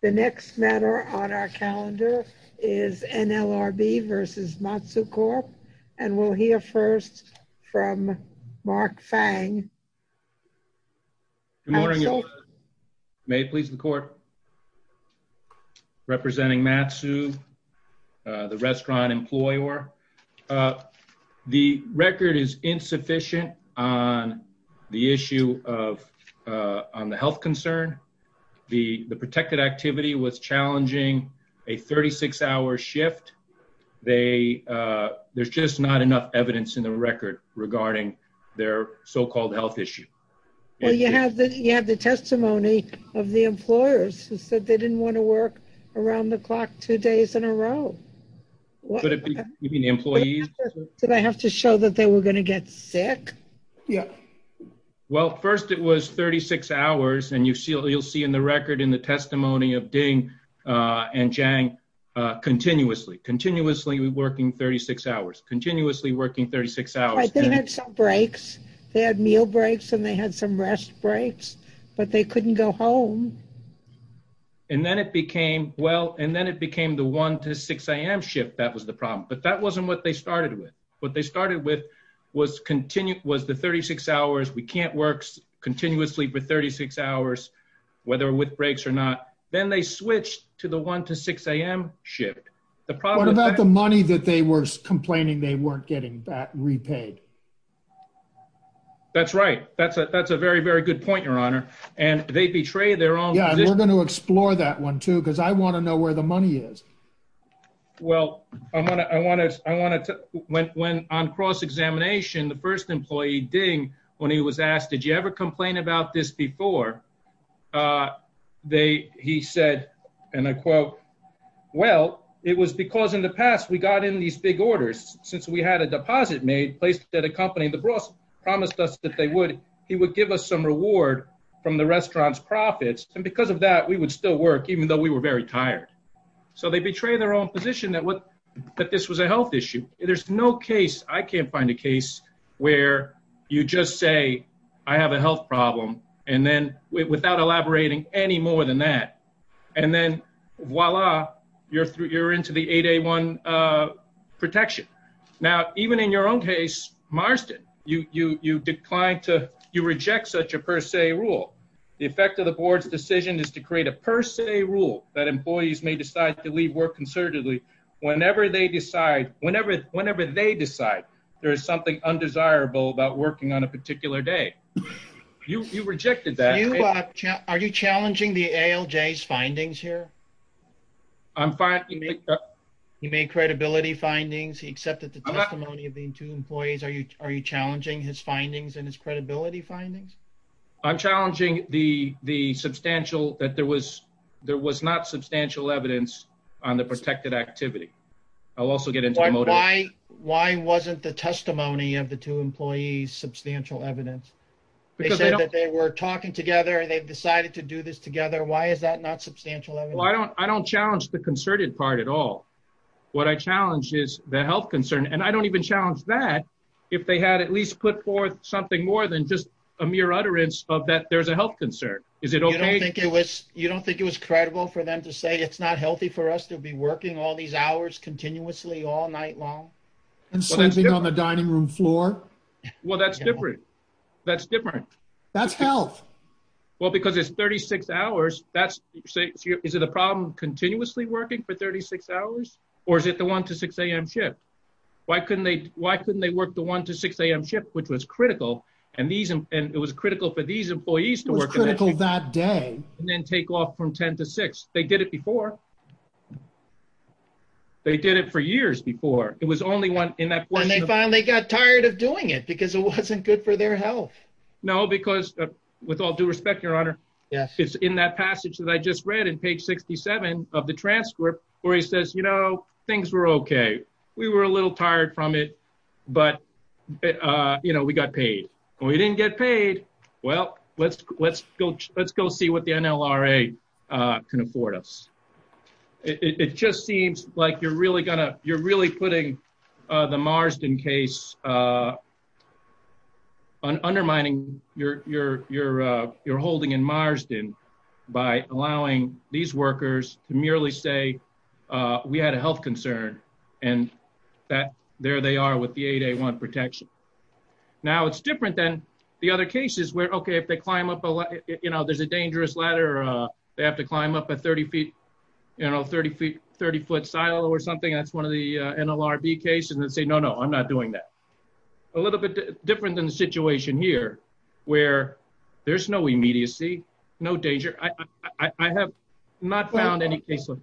The next matter on our calendar is NLRB versus Matsu Corp. And we'll hear first from Mark Fang. Good morning. May it please the court. Representing Matsu, the restaurant employer. The record is insufficient on the issue of on the health concern. The protected activity was challenging a 36-hour shift. There's just not enough evidence in the record regarding their so-called health issue. Well, you have the testimony of the employers who said they didn't want to work around the clock two days in a row. Did I have to show that they were going to get sick? Yeah. Well, first it was 36 hours. And you'll see in the record in the testimony of Ding and Zhang, continuously. Continuously working 36 hours. Continuously working 36 hours. They had some breaks. They had meal breaks and they had some rest breaks. But they couldn't go home. And then it became the 1 to 6 a.m. shift that was the problem. But that wasn't what they the 36 hours. We can't work continuously for 36 hours, whether with breaks or not. Then they switched to the 1 to 6 a.m. shift. What about the money that they were complaining they weren't getting that repaid? That's right. That's a very, very good point, Your Honor. And they betrayed their own. We're going to explore that one, too, because I want to know where the money is. Well, I want to when on cross-examination, the first employee, Ding, when he was asked, did you ever complain about this before? He said, and I quote, well, it was because in the past we got in these big orders. Since we had a deposit made, placed at a company, the boss promised us that they would. He would give us some reward from the restaurant's profits. And because of that, we would still work, even though we were very tired. So they betrayed their own position that this was a health issue. There's no case, I can't find a case, where you just say, I have a health problem. And then without elaborating any more than that, and then voila, you're into the 8A1 protection. Now, even in your own case, Marston, you declined to, you reject such a per se rule. The effect of the board's decision is to create a per se rule that employees may decide to leave work concertedly whenever they decide, whenever they decide there is something undesirable about working on a particular day. You rejected that. Are you challenging the ALJ's findings here? I'm fine. He made credibility findings. He accepted the testimony of the two employees. Are you challenging his findings and his credibility findings? I'm challenging the substantial, that there was, there was not substantial evidence on the protected activity. I'll also get into the motive. Why, why wasn't the testimony of the two employees substantial evidence? Because they were talking together and they've decided to do this together. Why is that not substantial? I don't, I don't challenge the concerted part at all. What I challenge is the health concern. And I don't even challenge that if they had at least put forth something more than just a mere utterance of that, there's a health concern. Is it okay? You don't think it was credible for them to say it's not healthy for us to be working all these hours continuously all night long? And sleeping on the dining room floor? Well, that's different. That's different. That's health. Well, because it's 36 hours. That's, is it a problem continuously working for 36 hours? Or is it the 1 to 6 a.m. shift? Why couldn't they, why couldn't they work the 1 to 6 a.m. shift, which was critical. And these, and it was critical for these employees to work. It was critical that day. And then take off from 10 to 6. They did it before. They did it for years before. It was only one in that. And they finally got tired of doing it because it wasn't good for their health. No, because with all due respect, your honor. Yes. It's in that passage that I just read in page 67 of the transcript where he says, things were okay. We were a little tired from it. But we got paid. We didn't get paid. Well, let's go see what the NLRA can afford us. It just seems like you're really going to, you're really putting the Marsden case undermining your holding in Marsden by allowing these workers to merely say, we had a health concern and that there they are with the 8A1 protection. Now it's different than the other cases where, okay, if they climb up, you know, there's a dangerous ladder. They have to climb up a 30 feet, you know, 30 feet, 30 foot silo or something. That's one of the NLRB cases and say, no, no, I'm not doing that. A little bit different than the situation here where there's no immediacy, no danger. I have not found any cases.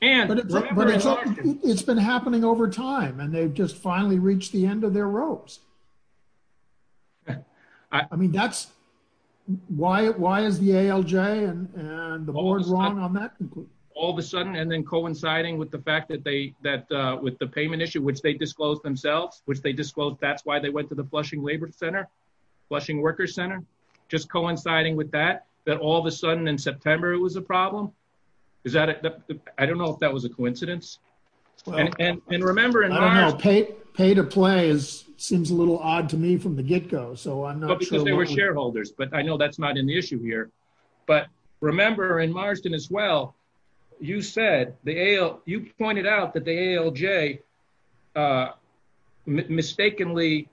It's been happening over time and they've just finally reached the end of their ropes. I mean, that's why is the ALJ and the board wrong on that? All of a sudden, and then coinciding with the fact that they, that with the payment issue, which they disclosed themselves, which they disclosed that's why they went to the Flushing Labor Center, Flushing Workers Center, just coinciding with that, that all of a sudden in September, it was a problem. Is that, I don't know if that was a coincidence. And remember, pay to play is seems a little odd to me from the get go. So I'm not sure they were shareholders, but I know that's not an issue here. But remember in Marsden as well, you said the AL, you pointed out that the ALJ mistakenly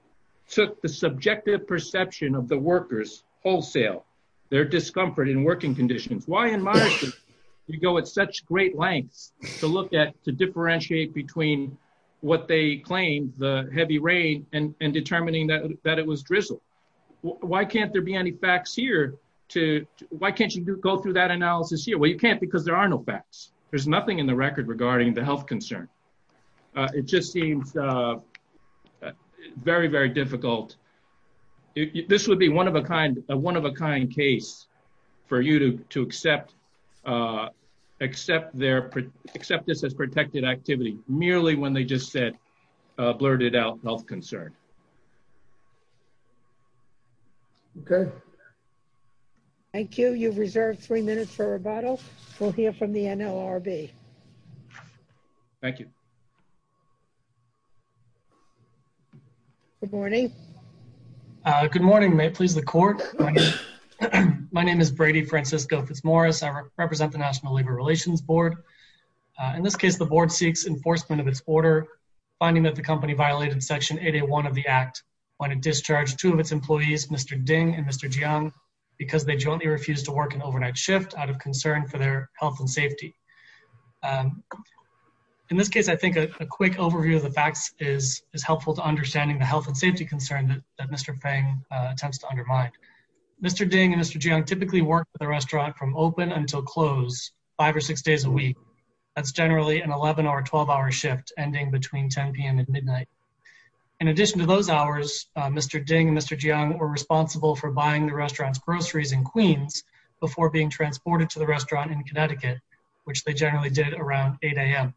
took the subjective perception of the workers wholesale, their discomfort in working conditions. Why in Marsden, you go at such great lengths to look at, to differentiate between what they claim the heavy rain and determining that it was drizzle. Why can't there be any facts here to, why can't you go through that analysis here? Well, you can't because there are no facts. There's nothing in the record regarding the health concern. It just seems very, very difficult. This would be a one of a kind case for you to accept this as protected activity, merely when they just said, blurted out health concern. Okay. Thank you. You've reserved three minutes for rebuttal. We'll hear from the NLRB. Thank you. Good morning. Good morning. May it please the court. My name is Brady Francisco Fitzmaurice. I represent the National Labor Relations Board. In this case, the board seeks enforcement of its order, finding that the company violated section 801 of the act when it discharged two of its employees, Mr. Ding and Mr. Jiang, from work. In this case, I think a quick overview of the facts is helpful to understanding the health and safety concern that Mr. Feng attempts to undermine. Mr. Ding and Mr. Jiang typically work at the restaurant from open until close, five or six days a week. That's generally an 11-hour, 12-hour shift ending between 10 p.m. and midnight. In addition to those hours, Mr. Ding and Mr. Jiang were responsible for buying the restaurant's groceries in Queens before being transported to the restaurant in Connecticut, which they generally did around 8 a.m.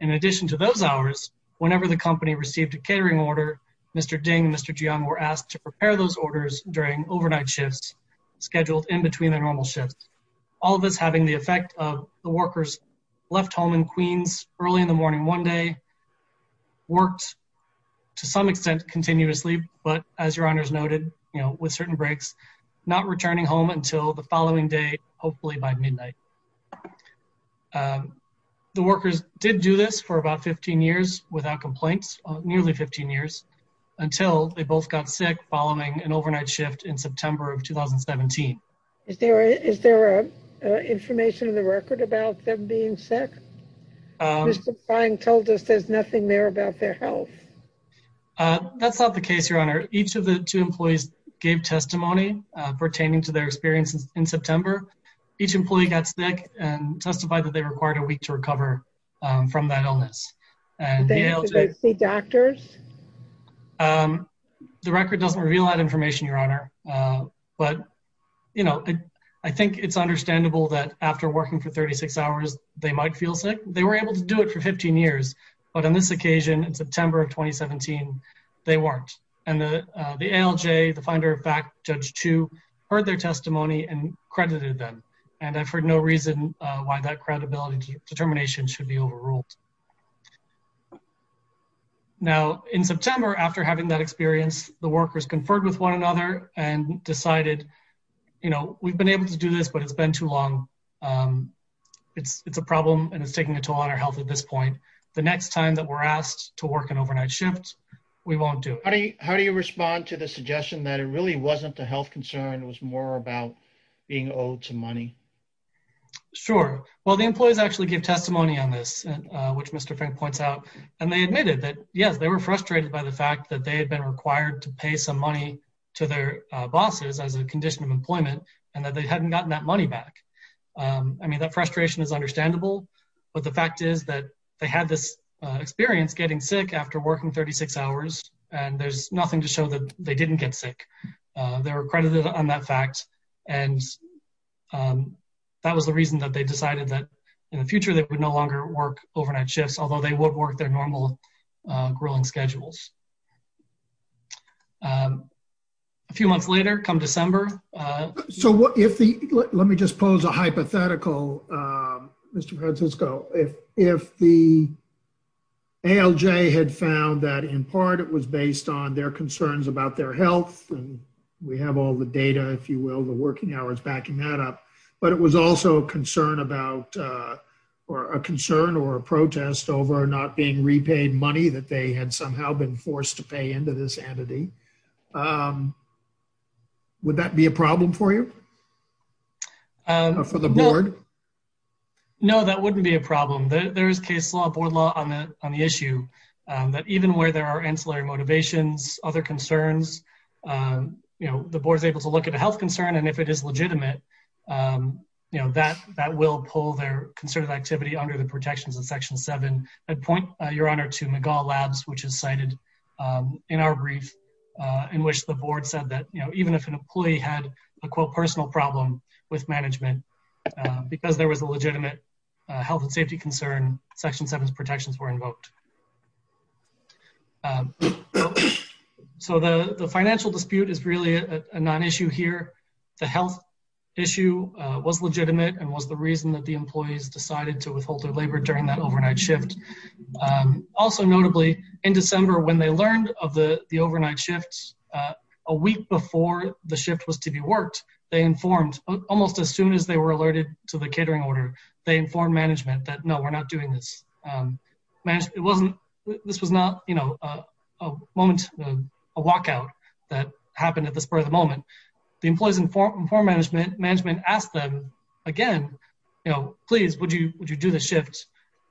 In addition to those hours, whenever the company received a catering order, Mr. Ding and Mr. Jiang were asked to prepare those orders during overnight shifts scheduled in between their normal shifts, all of this having the effect of the workers left home in Queens early in the morning one day, worked to some extent continuously, but as your honors noted, you know, with certain breaks, not returning home until the following day, hopefully by midnight. The workers did do this for about 15 years without complaints, nearly 15 years, until they both got sick following an overnight shift in September of 2017. Is there information in the record about them being sick? Mr. Feng told us there's nothing there about their health. That's not the case, your honor. Each of the two employees gave testimony pertaining to their experiences in September. Each employee got sick and testified that they required a week to recover from that illness. Did they see doctors? The record doesn't reveal that information, your honor, but, you know, I think it's understandable that after working for 36 hours, they might feel sick. They were able to do it for 15 years, but on this occasion in September of 2017, they weren't. And the ALJ, the finder of fact, Judge Chu, heard their testimony and credited them, and I've heard no reason why that credibility determination should be overruled. Now, in September, after having that experience, the workers conferred with one another and decided, you know, we've been able to do this, but it's been too long. It's a problem and it's taking a toll on our health at this point. The next time that we're asked to work an overnight shift, we won't do it. How do you respond to the suggestion that it really wasn't a health concern, it was more about being owed some money? Sure. Well, the employees actually give testimony on this, which Mr. Fink points out, and they admitted that, yes, they were frustrated by the fact that they had been required to pay some money to their bosses as a condition of employment and that they hadn't gotten that money back. I mean, that frustration is understandable, but the fact is that they had this experience getting sick after working 36 hours, and there's nothing to show that they didn't get sick. They were credited on that fact, and that was the reason that they decided that in the future they would no longer work overnight shifts, although they would work their normal grilling schedules. A few months later, come December... Let me just pose a hypothetical, Mr. Francisco. If the ALJ had found that, in part, it was based on their concerns about their health, and we have all the data, if you will, the working hours backing that up, but it was also a concern or a protest over not being repaid money that they had somehow been forced to pay into this entity, would that be a problem for you? Or for the board? No, that wouldn't be a problem. There is case law, board law on the issue, that even where there are ancillary motivations, other concerns, the board is able to look at a health concern, and if it is legitimate, that will pull their concerted activity under the protections of Section 7. I'd point, Your Honor, to McGaugh Labs, which is cited in our brief, in which the board said that even if an employee had a, quote, personal problem with management, because there was a legitimate health and safety concern, Section 7's protections were invoked. So the financial dispute is really a non-issue here. The health issue was legitimate and was the reason that the employees decided to withhold their labor during that overnight shift. Also, notably, in December, when they learned of the overnight shift, a week before the shift was to be worked, they informed, almost as soon as they were alerted to the catering order, they informed management that, no, we're not doing this. This was not, you know, a moment, a walkout that happened at the spur of the moment. The employees informed management, management asked them again, you know, please, would you do the shift,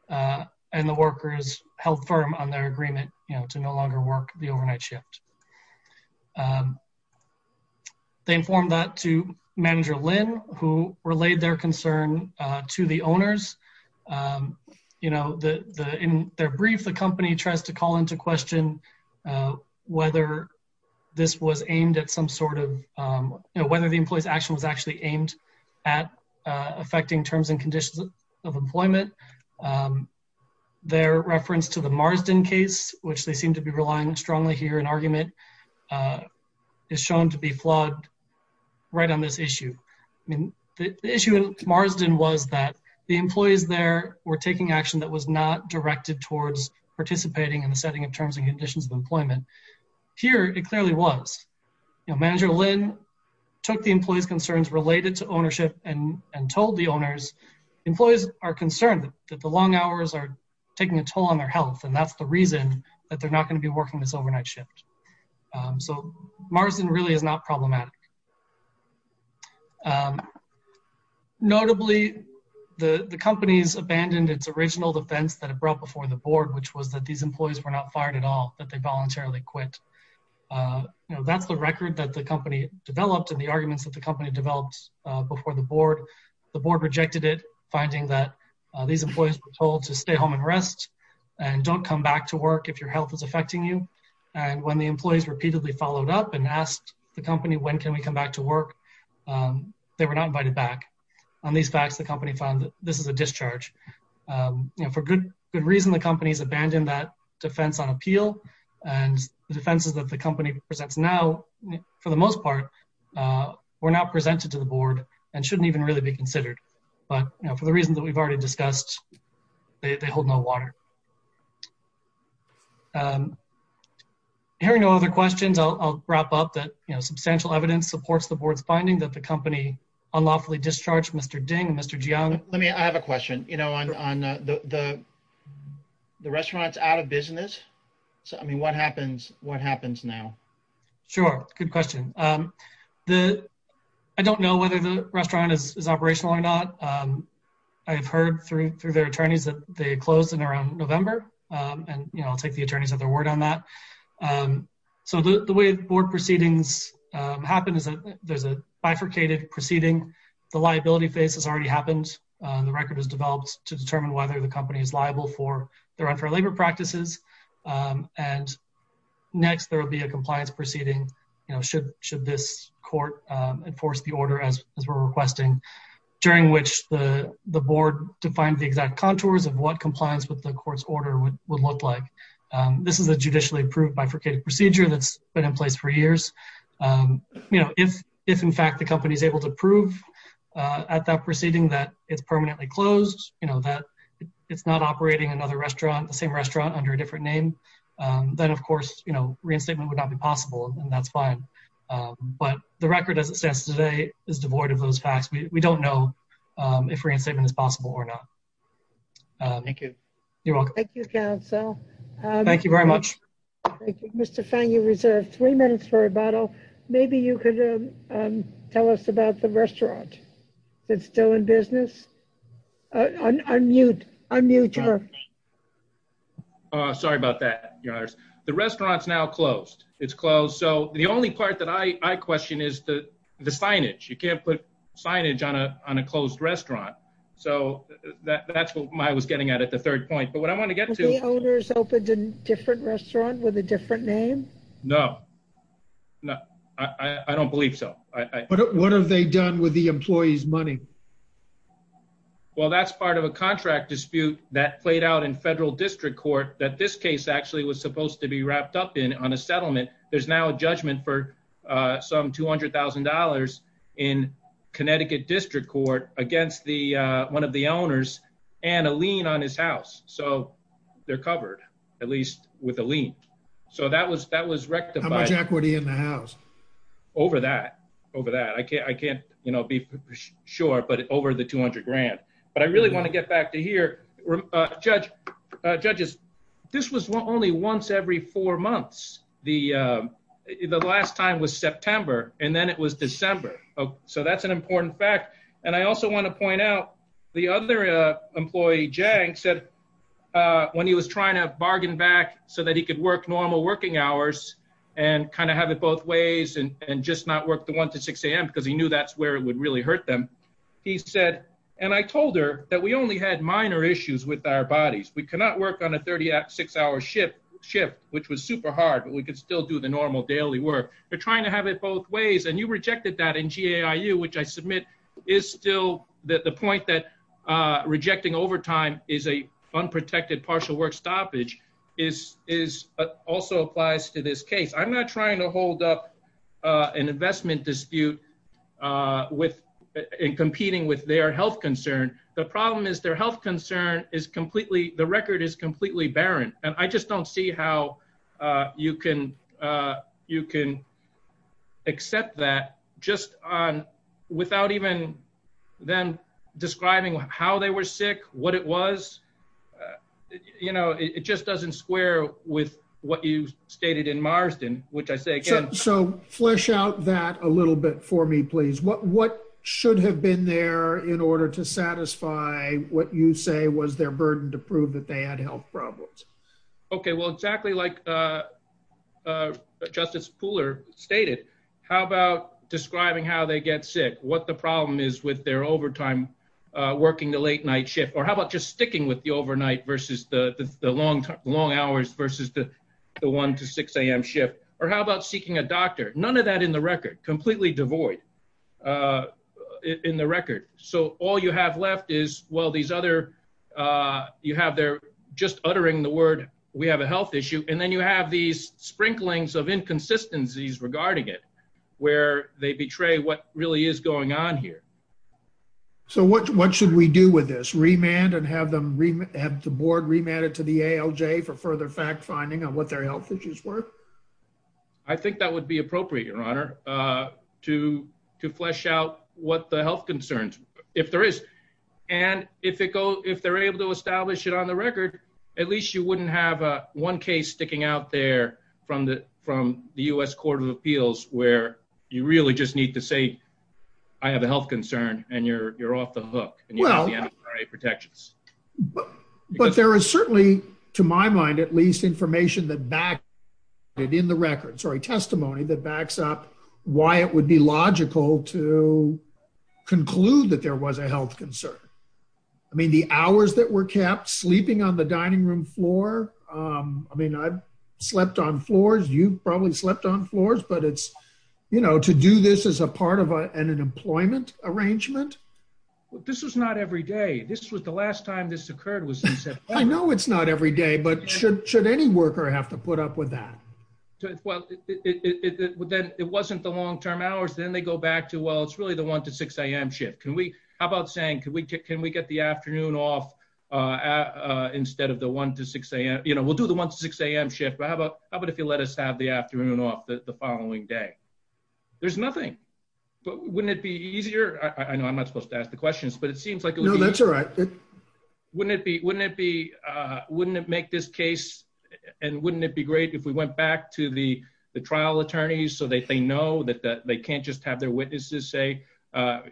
and the workers held firm on their agreement, you know, to no longer work the overnight shift. They informed that to Manager Lin, who relayed their concern to the owners. You know, in their brief, the company tries to call into question whether this was aimed at some sort of, you know, whether the employee's action was actually aimed at affecting terms and conditions of employment. Their reference to the Marsden case, which they seem to be relying strongly here in argument, is shown to be flawed right on this issue. I mean, the issue in Marsden was that the employees there were taking action that was not directed towards participating in the setting of terms and conditions of employment. Here, it clearly was. You know, Manager Lin took the employee's concerns related to ownership and told the owners, employees are concerned that the long hours are taking a toll on their health, and that's the reason that they're not going to be working this overnight shift. So, Marsden really is not problematic. Notably, the company's abandoned its original defense that it brought before the board, which was that these employees were not fired at all, that they voluntarily quit. You know, that's the record that the company developed and the arguments that the company developed before the board. The board rejected it, finding that these employees were told to stay home and rest and don't come back to work if your health is affecting you, and when the employees repeatedly followed up and asked the company, when can we come back to work, they were not invited back. On these facts, the company found that this is a discharge. You know, for good reason, the company's abandoned that defense on appeal, and the defenses that the company presents now, for the most part, were not presented to the board and shouldn't even really be considered. But, you know, for the reasons that we've already discussed, they hold no water. Hearing no other questions, I'll wrap up that, you know, substantial evidence supports the board's finding that the company unlawfully discharged Mr. Ding and Mr. Jiang. Let me, I have a question. You know, on the restaurant's out of business, I mean, what happens now? Sure, good question. I don't know whether the restaurant is operational or not. I've heard through their attorneys that they closed in around November, and, you know, I'll take the attorney's other word on that. So the way board proceedings happen is that there's a bifurcated proceeding, the liability phase has already happened, the record is developed to determine whether the company is liable for their unfair labor practices. And next, there will be a compliance proceeding, you know, should this court enforce the order as we're requesting, during which the board defined the exact contours of what compliance with the court's order would look like. This is a judicially approved bifurcated procedure that's been in place for years. You know, if, in fact, the company is able to prove at that proceeding that it's permanently closed, you know, that it's not operating another restaurant, the same restaurant under a different name, then, of course, you know, reinstatement would not be possible, and that's fine. But the record as it stands today is devoid of those facts. We don't know if reinstatement is possible or not. Thank you. You're welcome. Thank you, counsel. Thank you very much. Mr. Fang, you reserved three minutes for rebuttal. Maybe you could tell us about the restaurant. Is it still in business? Unmute. Unmute her. Sorry about that, Your Honors. The restaurant's now closed. It's closed. So the only part that I question is the signage. You can't put signage on a closed restaurant. So that's what I was getting at, at the third point. Have the owners opened a different restaurant with a different name? No, I don't believe so. What have they done with the employees' money? Well, that's part of a contract dispute that played out in federal district court that this case actually was supposed to be wrapped up in on a settlement. There's now a judgment for some $200,000 in Connecticut District Court against one of the owners and a lien on his house. They're covered, at least with a lien. So that was rectified. How much equity in the house? Over that. I can't be sure, but over the $200,000. But I really want to get back to here. Judges, this was only once every four months. The last time was September, and then it was December. So that's an important fact. And I also want to point out, the other employee, Jang, said when he was trying to bargain back so that he could work normal working hours and kind of have it both ways and just not work the 1 to 6 a.m. because he knew that's where it would really hurt them. He said, and I told her that we only had minor issues with our bodies. We cannot work on a 36-hour shift, which was super hard, but we could still do the normal daily work. They're trying to have it both ways. And you rejected that in GAIU, which I submit is still the point that rejecting overtime is an unprotected partial work stoppage also applies to this case. I'm not trying to hold up an investment dispute in competing with their health concern. The problem is their health concern is completely, the record is completely barren. And I just don't see how you can accept that just on, without even then describing how they were sick, what it was. You know, it just doesn't square with what you stated in Marsden, which I say again. So flesh out that a little bit for me, please. What should have been there in order to satisfy what you say was their burden to prove that they had health problems? Okay, well, exactly like Justice Pooler stated, how about describing how they get sick, what the problem is with their overtime, working the late night shift, or how about just sticking with the overnight versus the long hours versus the one to 6 a.m. shift? Or how about seeking a doctor? None of that in the record, completely devoid in the record. So all you have left is, well, these other, you have they're just uttering the word, we have a health issue. And then you have these sprinklings of inconsistencies regarding it, where they betray what really is going on here. So what should we do with this? Remand and have them, have the board remanded to the ALJ for further fact finding on what their health issues were? I think that would be appropriate, Your Honor, to flesh out what the health concerns, if there is. And if they're able to establish it on the record, at least you wouldn't have one case sticking out there from the U.S. Court of Appeals, where you really just need to say, I have a health concern, and you're off the hook, and you have the MRA protections. But, but there is certainly, to my mind, at least information that back in the record, sorry, testimony that backs up why it would be logical to conclude that there was a health concern. I mean, the hours that were kept sleeping on the dining room floor. I mean, I've slept on floors, you've probably slept on floors, but it's, you know, to do this as a part of an employment arrangement. This was not every day. The last time this occurred was in September. I know it's not every day, but should any worker have to put up with that? Well, then it wasn't the long term hours, then they go back to, well, it's really the 1 to 6am shift. How about saying, can we get the afternoon off instead of the 1 to 6am? You know, we'll do the 1 to 6am shift, but how about if you let us have the afternoon off the following day? There's nothing. But wouldn't it be easier? That's all right. Wouldn't it be, wouldn't it be, wouldn't it make this case? And wouldn't it be great if we went back to the trial attorneys so that they know that they can't just have their witnesses say,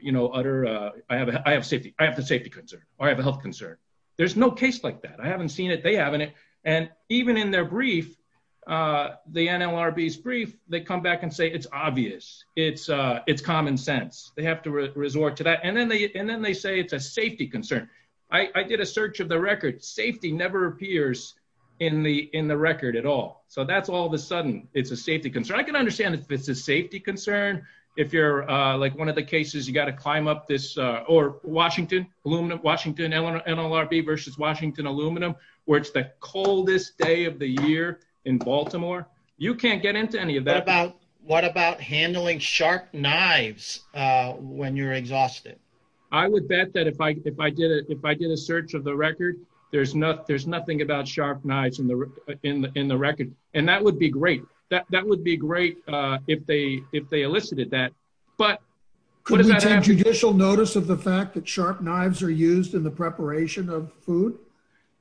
you know, utter, I have a safety, I have a safety concern, or I have a health concern. There's no case like that. I haven't seen it. They haven't. And even in their brief, the NLRB's brief, they come back and say it's obvious. It's common sense. They have to resort to that. And then they say it's a safety concern. I did a search of the record. Safety never appears in the record at all. So that's all of a sudden, it's a safety concern. I can understand if it's a safety concern. If you're like one of the cases, you got to climb up this or Washington aluminum, Washington NLRB versus Washington aluminum, where it's the coldest day of the year in Baltimore. You can't get into any of that. What about handling sharp knives when you're exhausted? I would bet that if I did it, if I did a search of the record, there's nothing about sharp knives in the record. And that would be great. That would be great if they elicited that. But what does that have? Could we take judicial notice of the fact that sharp knives are used in the preparation of food?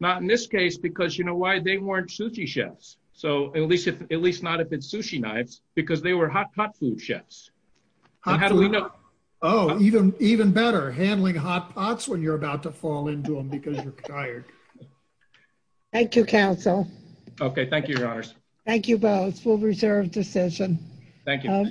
Not in this case, because you know why? They weren't sushi chefs. So at least not if it's sushi knives, because they were hot pot food chefs. Oh, even better. Handling hot pots when you're about to fall into them because you're tired. Thank you, counsel. Okay, thank you, your honors. Thank you both. Full reserve decision. Thank you.